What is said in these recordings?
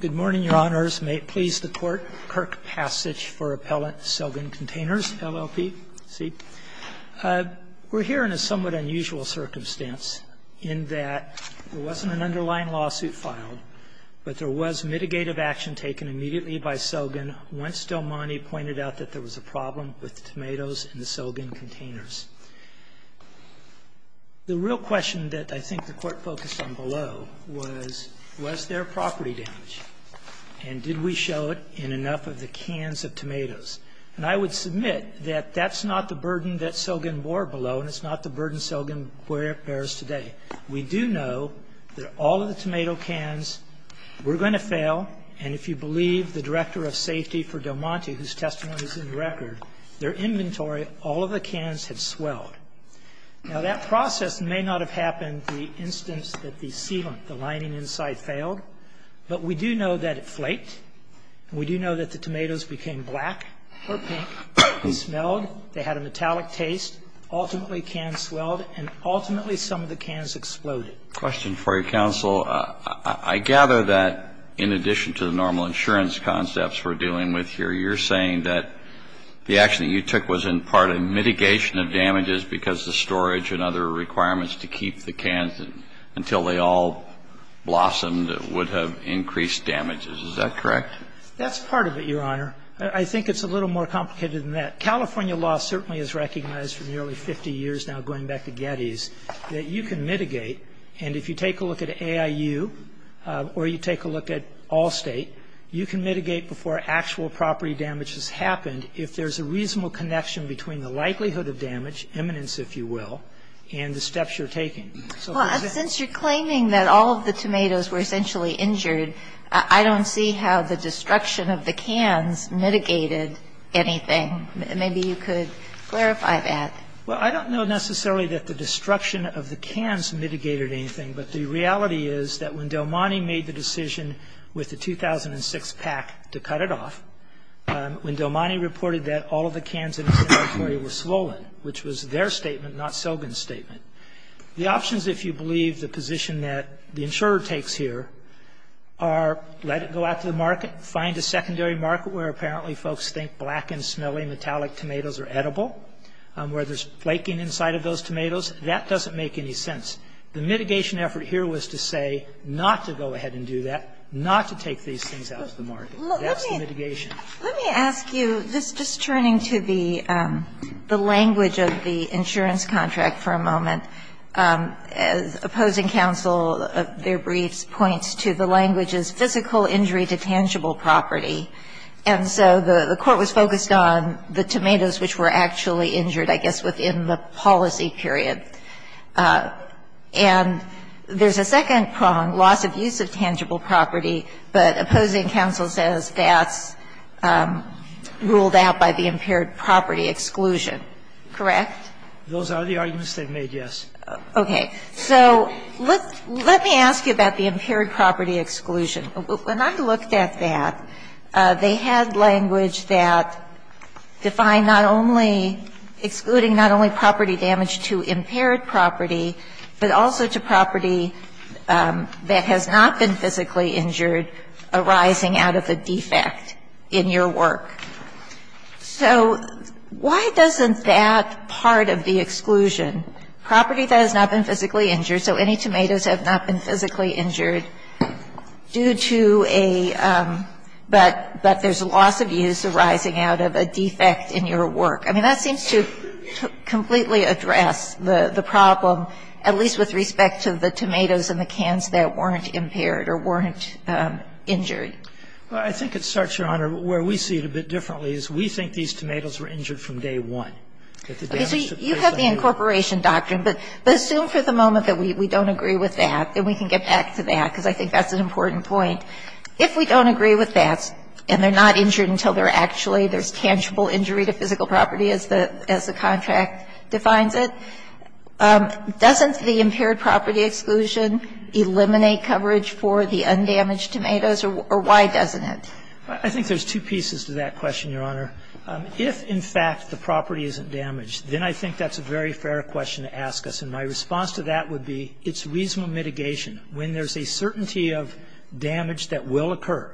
Good morning, Your Honors. May it please the Court, Kirk Passage for Appellant Selgan Containers, LLC. We're here in a somewhat unusual circumstance in that there wasn't an underlying lawsuit filed, but there was mitigative action taken immediately by Selgan once Del Monte pointed out that there was a problem with the tomatoes in the Selgan containers. The real question that I think the Court focused on below was, was there property damage, and did we show it in enough of the cans of tomatoes? And I would submit that that's not the burden that Selgan bore below, and it's not the burden Selgan bears today. We do know that all of the tomato cans were going to fail, and if you believe the Director of Safety for Del Monte, whose testimony is in the record, their inventory, all of the cans had swelled. Now, that process may not have happened the instance that the sealant, the lining inside, failed, but we do know that it flaked, and we do know that the tomatoes became black or pink. They smelled. They had a metallic taste. Ultimately, the cans swelled, and ultimately, some of the cans exploded. Question for you, counsel. I gather that in addition to the normal insurance concepts we're dealing with here, you're saying that the action that you took was in part a mitigation of damages because the storage and other requirements to keep the cans until they all blossomed would have increased damages. Is that correct? That's part of it, Your Honor. I think it's a little more complicated than that. California law certainly has recognized for nearly 50 years now, going back to Getty's, that you can mitigate, and if you take a look at AIU or you take a look at Allstate, you can mitigate before actual property damage has happened if there's a reasonable connection between the likelihood of damage, eminence, if you will, and the steps you're taking. Well, since you're claiming that all of the tomatoes were essentially injured, I don't see how the destruction of the cans mitigated anything. Maybe you could clarify that. Well, I don't know necessarily that the destruction of the cans mitigated anything, but the reality is that when Del Monte made the decision with the 2006 PAC to cut it off, when Del Monte reported that all of the cans in his inventory were swollen, which was their statement, not Sogin's statement, the options, if you believe, the position that the insurer takes here are let it go out to the market, find a secondary market where apparently folks think black and smelly metallic tomatoes are edible, where there's flaking inside of those tomatoes. That doesn't make any sense. The mitigation effort here was to say not to go ahead and do that, not to take these things out. So I don't know if that was the market. That's the mitigation. Let me ask you, just turning to the language of the insurance contract for a moment, opposing counsel, their briefs, points to the language as physical injury to tangible property. And so the Court was focused on the tomatoes which were actually injured, I guess, within the policy period. And there's a second prong, loss of use of tangible property, but opposing counsel says that's ruled out by the impaired property exclusion, correct? Those are the arguments they've made, yes. Okay. So let me ask you about the impaired property exclusion. When I looked at that, they had language that defined not only excluding not only property damage to impaired property, but also to property that has not been physically injured arising out of a defect in your work. So why doesn't that part of the exclusion, property that has not been physically injured, so any tomatoes have not been physically injured due to a, but there's loss of use arising out of a defect in your work. I mean, that seems to completely address the problem, at least with respect to the damage that was caused by the tomatoes that were not physically injured. So why is it that the tomatoes that were not physically injured were not injured? I think it starts, Your Honor, where we see it a bit differently, is we think these tomatoes were injured from day one. Okay. So you have the incorporation doctrine, but assume for the moment that we don't agree with that, and we can get back to that, because I think that's an important point. If we don't agree with that, and they're not injured until they're actually, there's tangible injury to physical property as the contract defines it, doesn't the impaired property exclusion eliminate coverage for the undamaged tomatoes, or why doesn't it? I think there's two pieces to that question, Your Honor. If, in fact, the property isn't damaged, then I think that's a very fair question to ask us. And my response to that would be it's reasonable mitigation. When there's a certainty of damage that will occur,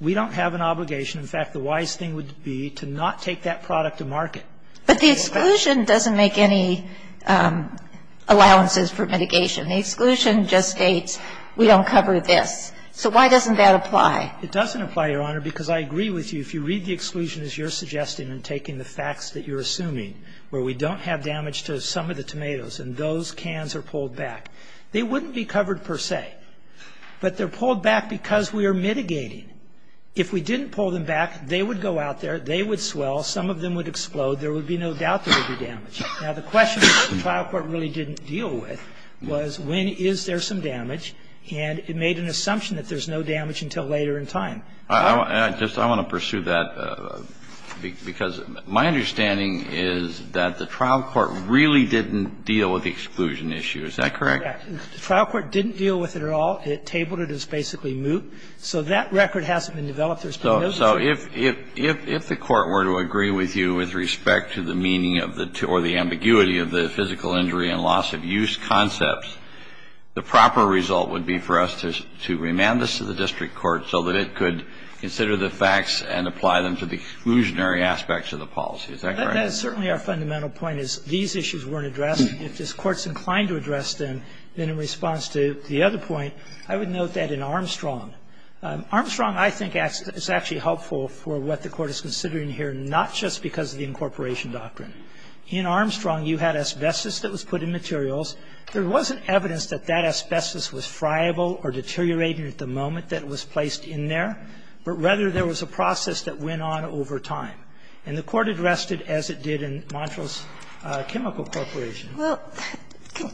we don't have an obligation. In fact, the wise thing would be to not take that product to market. But the exclusion doesn't make any allowances for mitigation. The exclusion just states we don't cover this. So why doesn't that apply? It doesn't apply, Your Honor, because I agree with you. If you read the exclusion as you're suggesting and taking the facts that you're assuming, where we don't have damage to some of the tomatoes and those cans are not damaged, they're not covered per se, but they're pulled back because we are mitigating. If we didn't pull them back, they would go out there, they would swell, some of them would explode, there would be no doubt there would be damage. Now, the question that the trial court really didn't deal with was when is there some damage, and it made an assumption that there's no damage until later in time. I just want to pursue that, because my understanding is that the trial court really didn't deal with the exclusion issue. Is that correct? The trial court didn't deal with it at all. It tabled it as basically moot. So that record hasn't been developed. There's been no discussion. So if the court were to agree with you with respect to the meaning of the or the ambiguity of the physical injury and loss of use concepts, the proper result would be for us to remand this to the district court so that it could consider the facts and apply them to the exclusionary aspects of the policy. Is that correct? That is certainly our fundamental point, is these issues weren't addressed. If this Court's inclined to address them, then in response to the other point, I would note that in Armstrong, Armstrong I think is actually helpful for what the Court is considering here, not just because of the incorporation doctrine. In Armstrong, you had asbestos that was put in materials. There wasn't evidence that that asbestos was friable or deteriorating at the moment that it was placed in there, but rather there was a process that went on over time. And the Court addressed it as it did in Montrose Chemical Corporation. Well,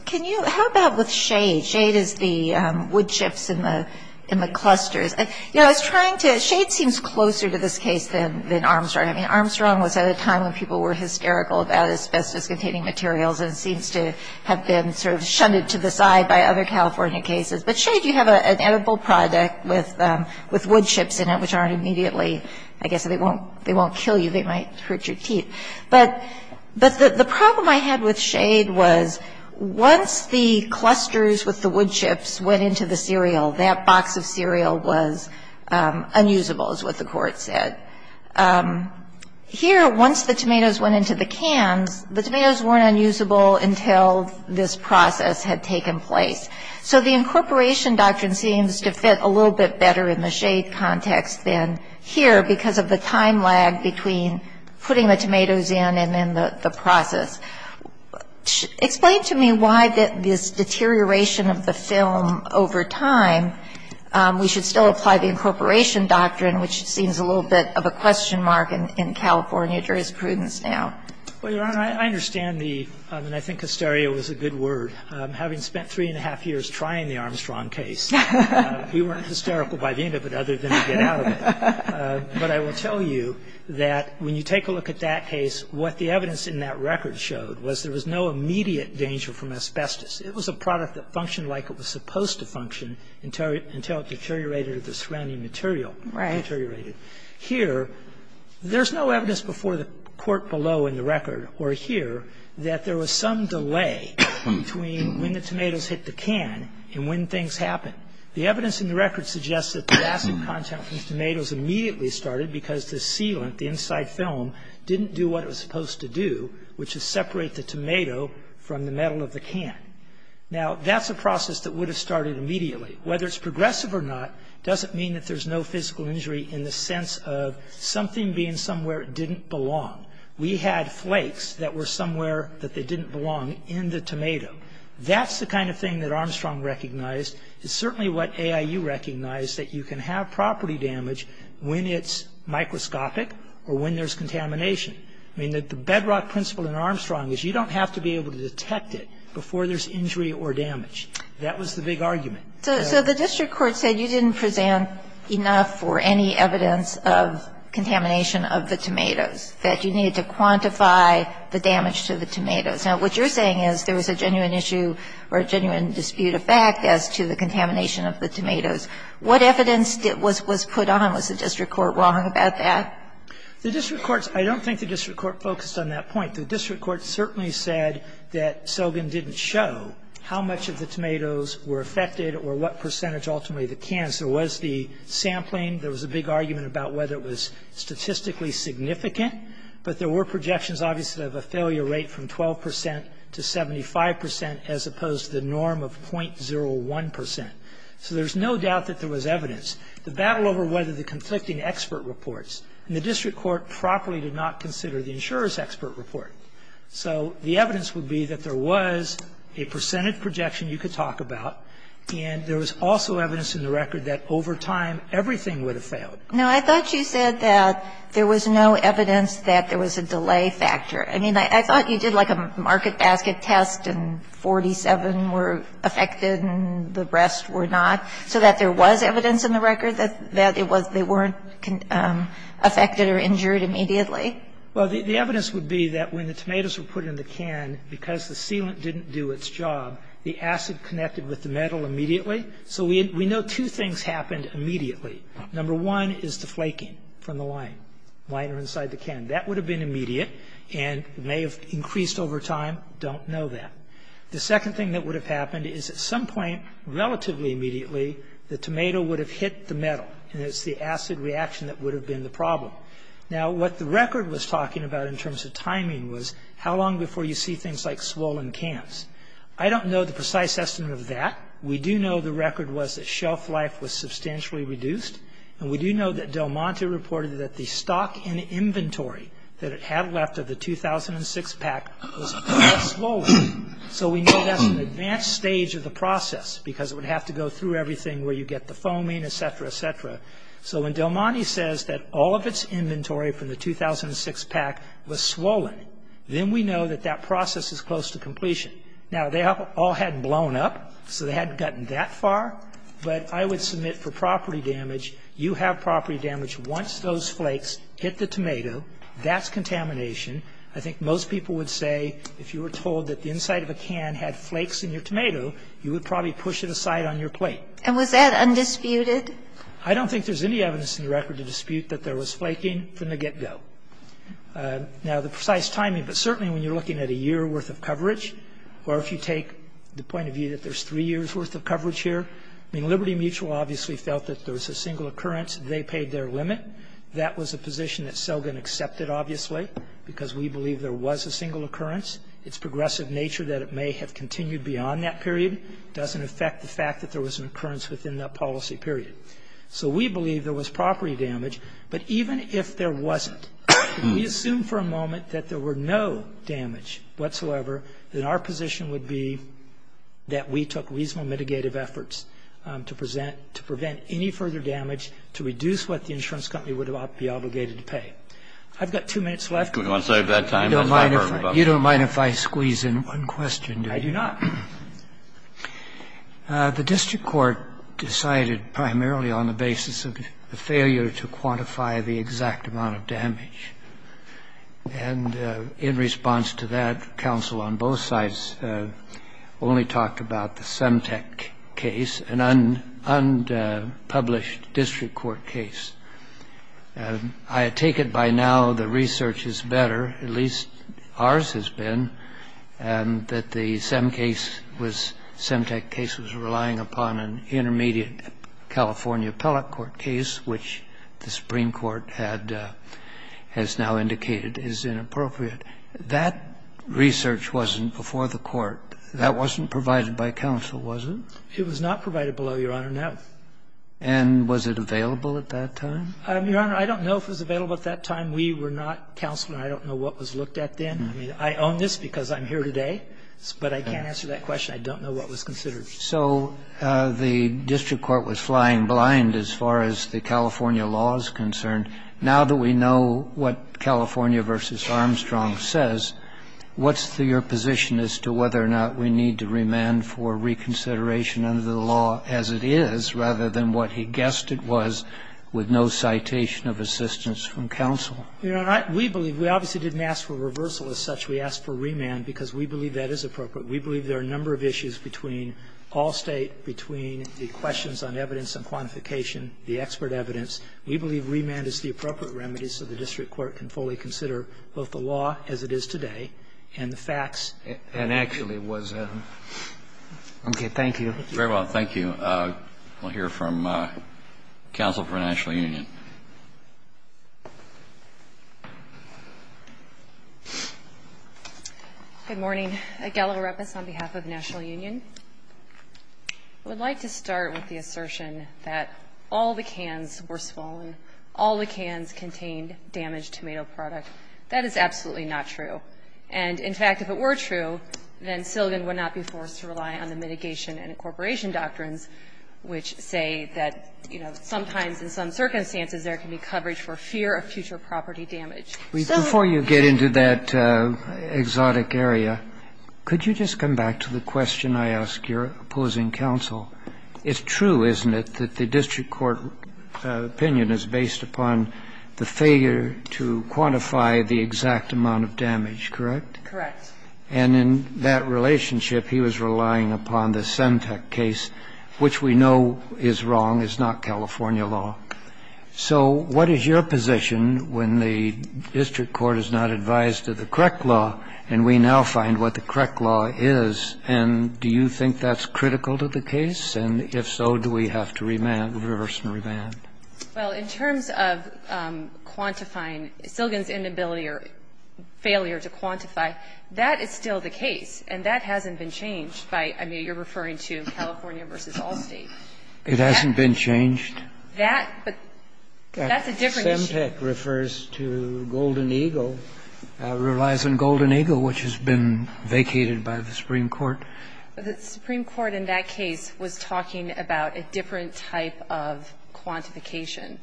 can you, how about with Shade? Shade is the wood chips in the, in the clusters. You know, I was trying to, Shade seems closer to this case than, than Armstrong. I mean, Armstrong was at a time when people were hysterical about asbestos containing materials, and it seems to have been sort of shunted to the side by other California cases. But Shade, you have an edible product with, with wood chips in it which aren't immediately, I guess they won't, they won't kill you. They might hurt your teeth. But, but the, the problem I had with Shade was once the clusters with the wood chips went into the cereal, that box of cereal was unusable is what the Court said. Here, once the tomatoes went into the cans, the tomatoes weren't unusable until this process had taken place. So the incorporation doctrine seems to fit a little bit better in the Shade context than here because of the time lag between putting the tomatoes in and then the, the process. Explain to me why this deterioration of the film over time, we should still apply the incorporation doctrine, which seems a little bit of a question mark in, in California jurisprudence now. Well, Your Honor, I understand the, and I think hysteria was a good word. Having spent three and a half years trying the Armstrong case, we weren't hysterical by the end of it other than to get out of it. But I will tell you that when you take a look at that case, what the evidence in that record showed was there was no immediate danger from asbestos. It was a product that functioned like it was supposed to function until it, until it deteriorated at the surrounding material, deteriorated. Here, there's no evidence before the court below in the record, or here, that there was some delay between when the tomatoes hit the can and when things happen. The evidence in the record suggests that the acid content from tomatoes immediately started because the sealant, the inside film, didn't do what it was supposed to do, which is separate the tomato from the metal of the can. Now, that's a process that would have started immediately. Whether it's progressive or not, doesn't mean that there's no physical injury in the sense of something being somewhere it didn't belong. We had flakes that were somewhere that they didn't belong in the tomato. That's the kind of thing that Armstrong recognized. It's certainly what AIU recognized, that you can have property damage when it's microscopic or when there's contamination. I mean, the bedrock principle in Armstrong is you don't have to be able to detect it before there's injury or damage. That was the big argument. So the district court said you didn't present enough for any evidence of contamination of the tomatoes, that you needed to quantify the damage to the tomatoes. Now, what you're saying is there was a genuine issue or a genuine dispute of fact as to the contamination of the tomatoes. What evidence was put on? Was the district court wrong about that? The district courts, I don't think the district court focused on that point. The district court certainly said that Sobin didn't show how much of the tomatoes were affected or what percentage ultimately of the cans. There was the sampling. There was a big argument about whether it was statistically significant. But there were projections, obviously, of a failure rate from 12 percent to 75 percent as opposed to the norm of .01 percent. So there's no doubt that there was evidence. The battle over whether the conflicting expert reports, and the district court properly did not consider the insurer's expert report. So the evidence would be that there was a percentage projection you could talk about, and there was also evidence in the record that over time everything would have failed. Now, I thought you said that there was no evidence that there was a delay factor. I mean, I thought you did like a market basket test and 47 were affected and the rest were not, so that there was evidence in the record that it was they weren't affected or injured immediately. Well, the evidence would be that when the tomatoes were put in the can, because the sealant didn't do its job, the acid connected with the metal immediately. So we know two things happened immediately. Number one is the flaking from the lime, lime inside the can. That would have been immediate and may have increased over time. Don't know that. The second thing that would have happened is at some point, relatively immediately, the tomato would have hit the metal, and it's the acid reaction that would have been the problem. Now, what the record was talking about in terms of timing was how long before you see things like swollen cans. I don't know the precise estimate of that. We do know the record was that shelf life was substantially reduced, and we do know that Del Monte reported that the stock in inventory that it had left of the 2006 pack was quite swollen. So we know that's an advanced stage of the process because it would have to go through everything where you get the foaming, et cetera, et cetera. So when Del Monte says that all of its inventory from the 2006 pack was swollen, then we know that that process is close to completion. Now, they all hadn't blown up, so they hadn't gotten that far, but I would submit for property damage, you have property damage once those flakes hit the tomato. That's contamination. I think most people would say if you were told that the inside of a can had flakes in your tomato, you would probably push it aside on your plate. And was that undisputed? I don't think there's any evidence in the record to dispute that there was flaking from the get-go. Now, the precise timing, but certainly when you're looking at a year worth of coverage, or if you take the point of view that there's three years worth of coverage here, I mean, Liberty Mutual obviously felt that there was a single occurrence. They paid their limit. That was a position that Selgin accepted, obviously, because we believe there was a single occurrence. Its progressive nature that it may have continued beyond that period doesn't affect the fact that there was an occurrence within that policy period. So we believe there was property damage, but even if there wasn't, if we assume for a moment that there were no damage whatsoever, then our position would be that we took reasonable mitigative efforts to present to prevent any further damage to reduce what the insurance company would be obligated to pay. I've got two minutes left. Kennedy, we want to save that time. That's not a burden. Roberts, you don't mind if I squeeze in one question, do you? I do not. The district court decided primarily on the basis of the failure to quantify the exact amount of damage, and in response to that, counsel on both sides only talked about the Semtec case, an unpublished district court case. I take it by now the research is better, at least ours has been, that the Semtec case was relying upon an intermediate California appellate court case, which the Supreme Court has now indicated is inappropriate. That research wasn't before the Court. That wasn't provided by counsel, was it? It was not provided below, Your Honor, no. And was it available at that time? Your Honor, I don't know if it was available at that time. We were not counsel, and I don't know what was looked at then. I mean, I own this because I'm here today, but I can't answer that question. I don't know what was considered. So the district court was flying blind as far as the California law is concerned. Now that we know what California v. Armstrong says, what's your position as to whether or not we need to remand for reconsideration under the law as it is, rather than what he guessed it was, with no citation of assistance from counsel? Your Honor, we believe we obviously didn't ask for reversal as such. We asked for remand because we believe that is appropriate. We believe there are a number of issues between all State, between the questions on evidence and quantification, the expert evidence. We believe remand is the appropriate remedy so the district court can fully consider both the law as it is today and the facts. And actually was a ---- Okay. Thank you. Very well. Thank you. We'll hear from counsel for the National Union. Good morning. Good morning. Aguela Repas on behalf of the National Union. I would like to start with the assertion that all the cans were swollen, all the cans contained damaged tomato product. That is absolutely not true. And, in fact, if it were true, then Silligan would not be forced to rely on the mitigation and incorporation doctrines, which say that, you know, sometimes in some circumstances there can be coverage for fear of future property damage. So ---- Before you get into that exotic area, could you just come back to the question I asked your opposing counsel? It's true, isn't it, that the district court opinion is based upon the failure to quantify the exact amount of damage, correct? Correct. And in that relationship, he was relying upon the Sentec case, which we know is wrong, is not California law. So what is your position when the district court is not advised to the correct law, and we now find what the correct law is, and do you think that's critical to the case? And, if so, do we have to reverse and remand? Well, in terms of quantifying, Silligan's inability or failure to quantify, that is still the case, and that hasn't been changed by ---- I mean, you're referring to California v. Allstate. It hasn't been changed? That ---- that's a different issue. Sentec refers to Golden Eagle, relies on Golden Eagle, which has been vacated by the Supreme Court. The Supreme Court in that case was talking about a different type of quantification.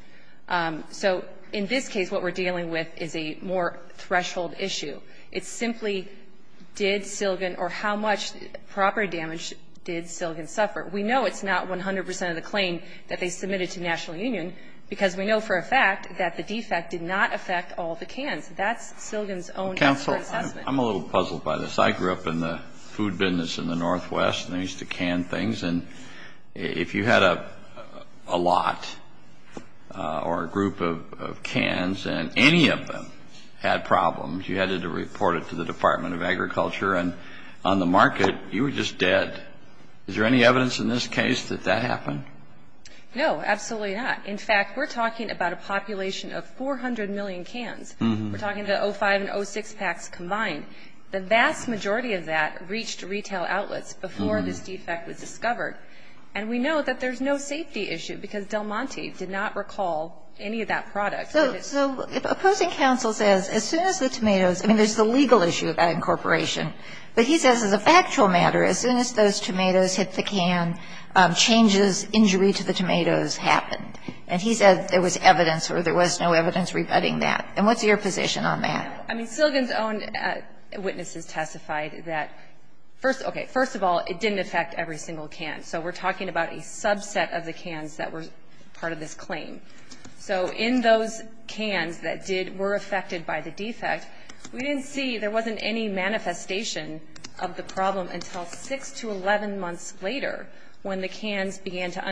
So in this case, what we're dealing with is a more threshold issue. It's simply did Silligan or how much property damage did Silligan suffer. We know it's not 100 percent of the claim that they submitted to national union because we know for a fact that the defect did not affect all the cans. That's Silligan's own ---- Counsel, I'm a little puzzled by this. I grew up in the food business in the Northwest, and they used to can things. And if you had a lot or a group of cans and any of them had problems, you had to report it to the Department of Agriculture. And on the market, you were just dead. Is there any evidence in this case that that happened? No, absolutely not. In fact, we're talking about a population of 400 million cans. We're talking about 05 and 06 packs combined. The vast majority of that reached retail outlets before this defect was discovered. And we know that there's no safety issue because Del Monte did not recall any of that product. So if opposing counsel says, as soon as the tomatoes ---- I mean, there's the legal issue about incorporation, but he says as a factual matter, as soon as those tomatoes hit the can, changes, injury to the tomatoes happened. And he said there was evidence or there was no evidence rebutting that. And what's your position on that? I mean, Silligan's own witnesses testified that first ---- okay, first of all, it didn't affect every single can. So we're talking about a subset of the cans that were part of this claim. So in those cans that did ---- were affected by the defect, we didn't see there wasn't any manifestation of the problem until six to 11 months later when the cans began to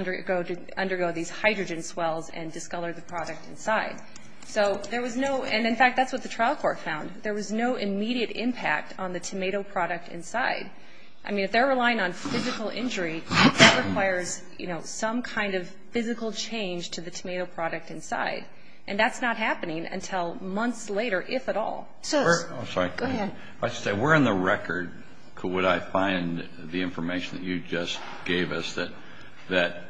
undergo these hydrogen swells and discolor the product inside. So there was no ---- and, in fact, that's what the trial court found. There was no immediate impact on the tomato product inside. I mean, if they're relying on physical injury, that requires, you know, some kind of physical change to the tomato product inside. And that's not happening until months later, if at all. So ---- I'm sorry. Go ahead. I should say, we're in the record, would I find the information that you just gave us, that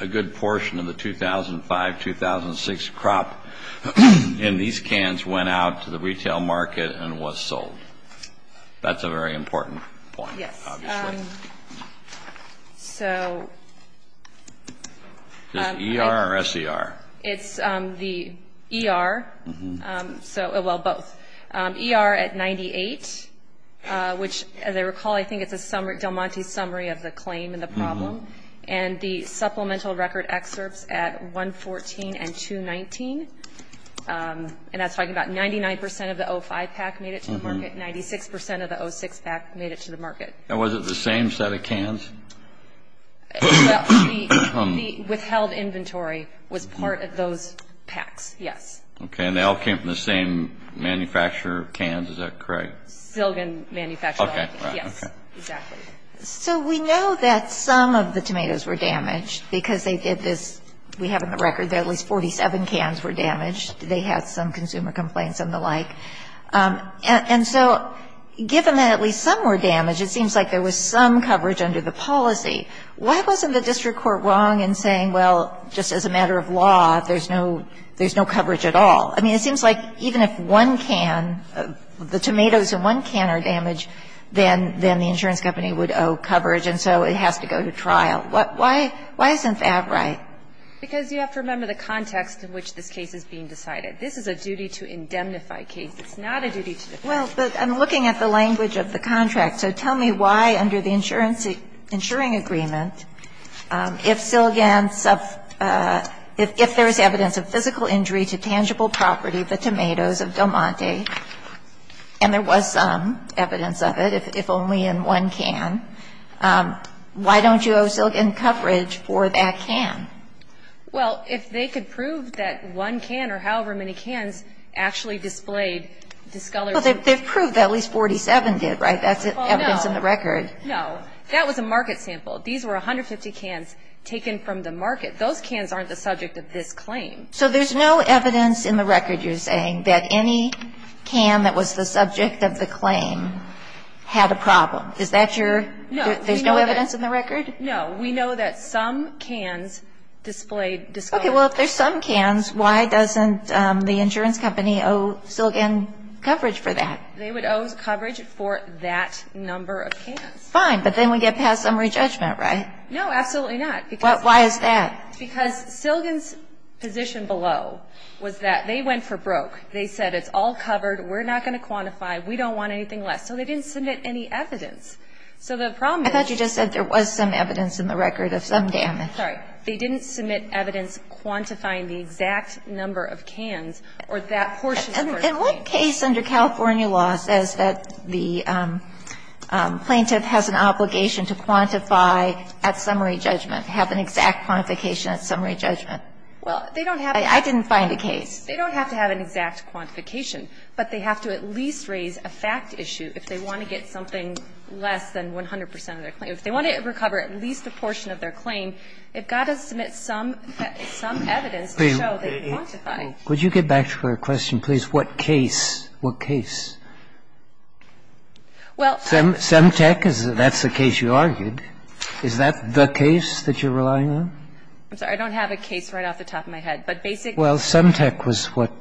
a good portion of the 2005, 2006 crop in these cans went out to the retail market and was sold. That's a very important point, obviously. Yes. So ---- Is it ER or SER? It's the ER, so ---- well, both, ER at 98, which, as I recall, I think it's a summary ---- Del Monte's summary of the claim and the problem. And the supplemental record excerpts at 114 and 219, and that's talking about 99 percent of the 05 pack made it to the market, 96 percent of the 06 pack made it to the market. And was it the same set of cans? Well, the withheld inventory was part of those packs, yes. Okay. And they all came from the same manufacturer of cans, is that correct? Silgan Manufacturing. Okay. Right. Okay. Yes, exactly. So we know that some of the tomatoes were damaged because they did this. We have in the record that at least 47 cans were damaged. They had some consumer complaints and the like. And so given that at least some were damaged, it seems like there was some coverage under the policy. Why wasn't the district court wrong in saying, well, just as a matter of law, there's no ---- there's no coverage at all? I mean, it seems like even if one can, the tomatoes in one can are damaged, then the insurance company would owe coverage, and so it has to go to trial. Why isn't that right? Because you have to remember the context in which this case is being decided. This is a duty to indemnify cases, not a duty to ---- Well, but I'm looking at the language of the contract. So tell me why under the insurance ---- insuring agreement, if Silgan's ---- if there is evidence of physical injury to tangible property, the tomatoes of Del Monte, and there was some evidence of it, if only in one can, why don't you owe Silgan coverage for that can? Well, if they could prove that one can or however many cans actually displayed discolored ---- Well, they've proved that at least 47 did, right? That's evidence in the record. No. That was a market sample. These were 150 cans taken from the market. Those cans aren't the subject of this claim. So there's no evidence in the record, you're saying, that any can that was the subject of the claim had a problem. Is that your ---- No. There's no evidence in the record? No. We know that some cans displayed discolored ---- Okay. Well, if there's some cans, why doesn't the insurance company owe Silgan coverage for that? They would owe coverage for that number of cans. Fine. But then we get past summary judgment, right? No, absolutely not. Because ---- Why is that? Because Silgan's position below was that they went for broke. They said, it's all covered, we're not going to quantify, we don't want anything less. So they didn't submit any evidence. So the problem is ---- I thought you just said there was some evidence in the record of some damage. Sorry. They didn't submit evidence quantifying the exact number of cans or that portion of the claim. In what case under California law says that the plaintiff has an obligation to quantify at summary judgment, have an exact quantification at summary judgment? I didn't find a case. They don't have to have an exact quantification, but they have to at least raise a fact issue if they want to get something less than 100 percent of their claim. If they want to recover at least a portion of their claim, they've got to submit some evidence to show that they quantify. Would you get back to her question, please? What case? What case? Well, I ---- Semtec, that's the case you argued. Is that the case that you're relying on? I'm sorry. I don't have a case right off the top of my head. But basically ---- Well, Semtec was what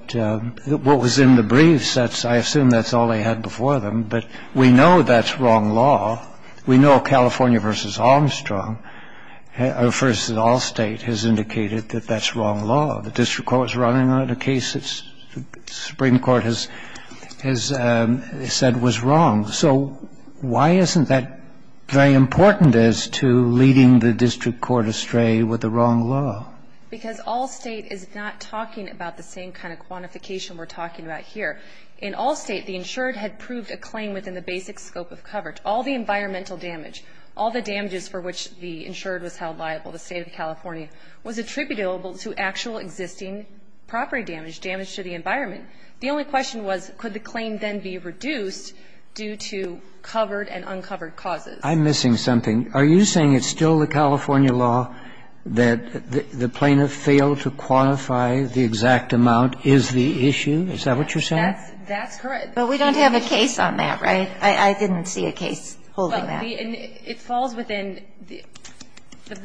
was in the briefs. I assume that's all they had before them. But we know that's wrong law. We know California v. Armstrong, versus Allstate, has indicated that that's wrong law. The district court was relying on a case that the Supreme Court has said was wrong. So why isn't that very important as to leading the district court astray with the wrong law? Because Allstate is not talking about the same kind of quantification we're talking about here. In Allstate, the insured had proved a claim within the basic scope of coverage. All the environmental damage, all the damages for which the insured was held liable, the State of California, was attributable to actual existing property damage, damage to the environment. The only question was, could the claim then be reduced due to covered and uncovered causes? I'm missing something. Are you saying it's still the California law that the plaintiff failed to quantify the exact amount is the issue? Is that what you're saying? That's correct. But we don't have a case on that, right? I didn't see a case holding that. It falls within the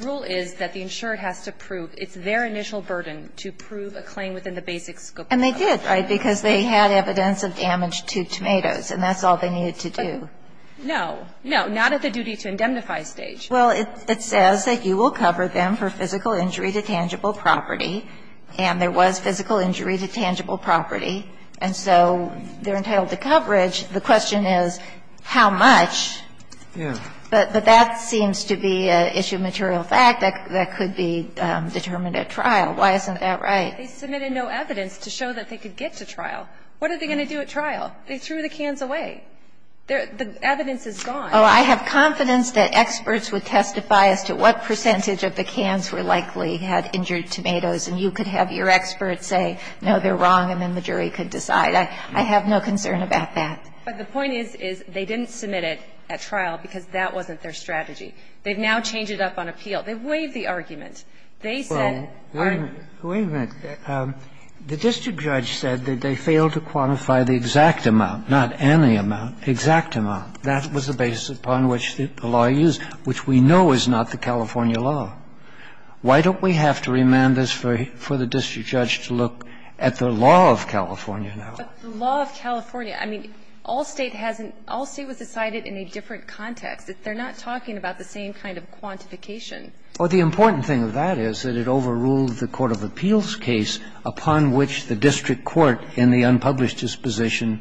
rule is that the insured has to prove. It's their initial burden to prove a claim within the basic scope of coverage. And they did, right, because they had evidence of damage to tomatoes, and that's all they needed to do. But no, no, not at the duty-to-indemnify stage. Well, it says that you will cover them for physical injury to tangible property, and there was physical injury to tangible property. And so they're entitled to coverage. The question is how much? Yeah. But that seems to be an issue of material fact that could be determined at trial. Why isn't that right? They submitted no evidence to show that they could get to trial. What are they going to do at trial? They threw the cans away. The evidence is gone. Oh, I have confidence that experts would testify as to what percentage of the cans were likely had injured tomatoes, and you could have your experts say, no, they're wrong, and then the jury could decide. I have no concern about that. But the point is, is they didn't submit it at trial because that wasn't their strategy. They've now changed it up on appeal. They waived the argument. They said, I'm going to do this. Wait a minute. The district judge said that they failed to quantify the exact amount, not any amount, exact amount. That was the basis upon which the law used, which we know is not the California law. Why don't we have to remand this for the district judge to look at the law of California now? But the law of California, I mean, all State hasn't – all State was decided in a different context. They're not talking about the same kind of quantification. Well, the important thing of that is that it overruled the court of appeals case upon which the district court in the unpublished disposition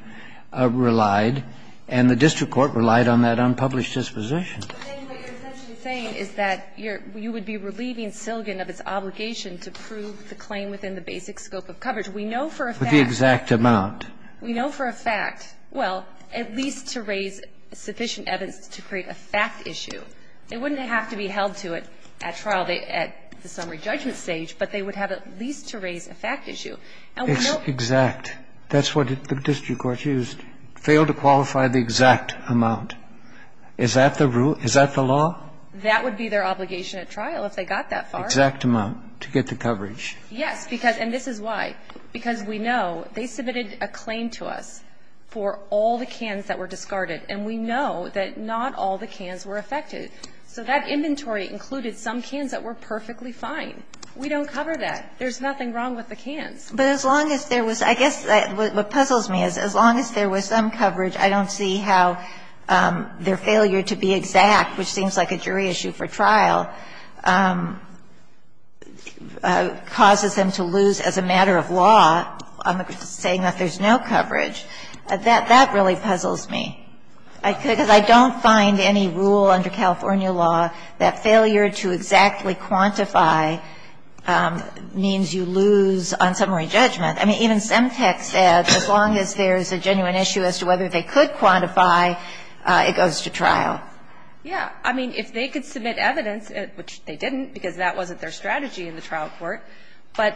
relied, and the district court relied on that unpublished disposition. Ginsburg-McCabe, I think what you're essentially saying is that you would be relieving Silgin of its obligation to prove the claim within the basic scope of coverage. We know for a fact – With the exact amount. We know for a fact, well, at least to raise sufficient evidence to create a fact issue. They wouldn't have to be held to it at trial, at the summary judgment stage, but they would have at least to raise a fact issue. It's exact. That's what the district court used. Failed to qualify the exact amount. Is that the rule? Is that the law? That would be their obligation at trial if they got that far. Exact amount to get the coverage. Yes, because – and this is why. Because we know they submitted a claim to us for all the cans that were discarded, and we know that not all the cans were affected. So that inventory included some cans that were perfectly fine. We don't cover that. There's nothing wrong with the cans. But as long as there was – I guess what puzzles me is as long as there was some evidence that their failure to be exact, which seems like a jury issue for trial, causes them to lose as a matter of law on the basis of saying that there's no coverage, that that really puzzles me. Because I don't find any rule under California law that failure to exactly quantify means you lose on summary judgment. I mean, even Semtex said as long as there's a genuine issue as to whether they could quantify, it goes to trial. Yeah. I mean, if they could submit evidence, which they didn't because that wasn't their strategy in the trial court, but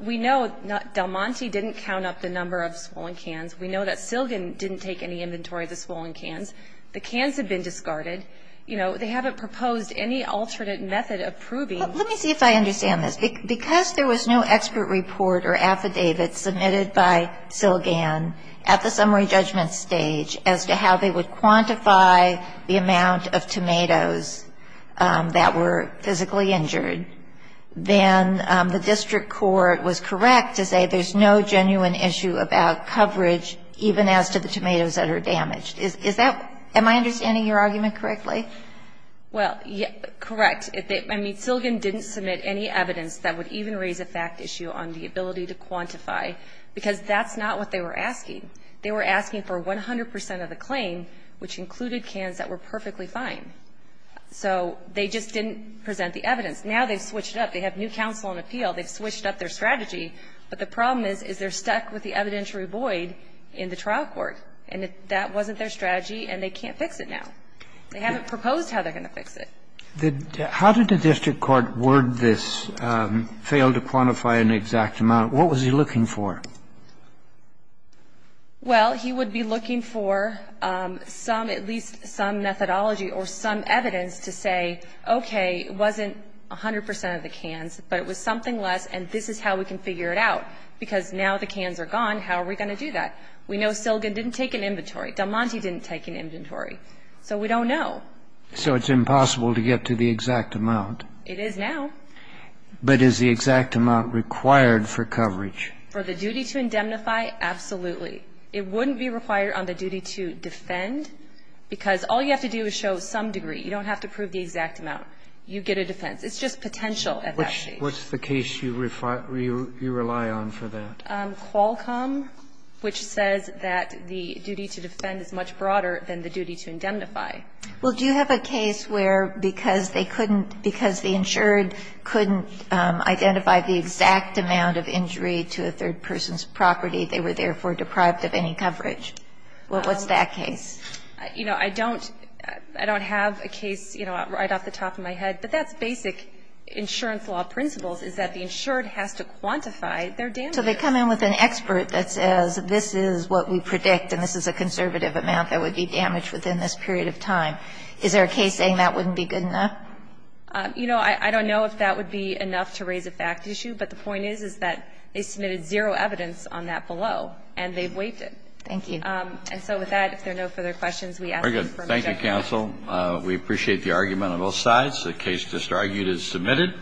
we know Del Monte didn't count up the number of swollen cans. We know that Silgan didn't take any inventory of the swollen cans. The cans had been discarded. You know, they haven't proposed any alternate method of proving. Well, let me see if I understand this. Because there was no expert report or affidavit submitted by Silgan at the summary judgment stage as to how they would quantify the amount of tomatoes that were physically injured. Then the district court was correct to say there's no genuine issue about coverage even as to the tomatoes that are damaged. Is that – am I understanding your argument correctly? Well, correct. I mean, Silgan didn't submit any evidence that would even raise a fact issue on the ability to quantify, because that's not what they were asking. They were asking for 100 percent of the claim, which included cans that were perfectly fine. So they just didn't present the evidence. Now they've switched it up. They have new counsel on appeal. They've switched up their strategy. But the problem is, is they're stuck with the evidentiary void in the trial court. And that wasn't their strategy, and they can't fix it now. They haven't proposed how they're going to fix it. How did the district court word this, fail to quantify an exact amount? What was he looking for? Well, he would be looking for some – at least some methodology or some evidence to say, okay, it wasn't 100 percent of the cans, but it was something less, and this is how we can figure it out, because now the cans are gone. How are we going to do that? We know Silgan didn't take an inventory. Del Monte didn't take an inventory. So we don't know. So it's impossible to get to the exact amount. It is now. But is the exact amount required for coverage? For the duty to indemnify? Absolutely. It wouldn't be required on the duty to defend, because all you have to do is show some degree. You don't have to prove the exact amount. You get a defense. It's just potential at that stage. What's the case you rely on for that? Qualcomm, which says that the duty to defend is much broader than the duty to indemnify. Well, do you have a case where, because they couldn't – because the insured couldn't identify the exact amount of injury to a third person's property, they were therefore deprived of any coverage? Well, what's that case? You know, I don't – I don't have a case, you know, right off the top of my head. But that's basic insurance law principles, is that the insured has to quantify their damages. So they come in with an expert that says this is what we predict and this is a conservative amount that would be damaged within this period of time. Is there a case saying that wouldn't be good enough? You know, I don't know if that would be enough to raise a fact issue. But the point is, is that they submitted zero evidence on that below, and they've waived it. Thank you. And so with that, if there are no further questions, we ask them for a motion. Very good. Thank you, counsel. We appreciate the argument on both sides. The case just argued is submitted.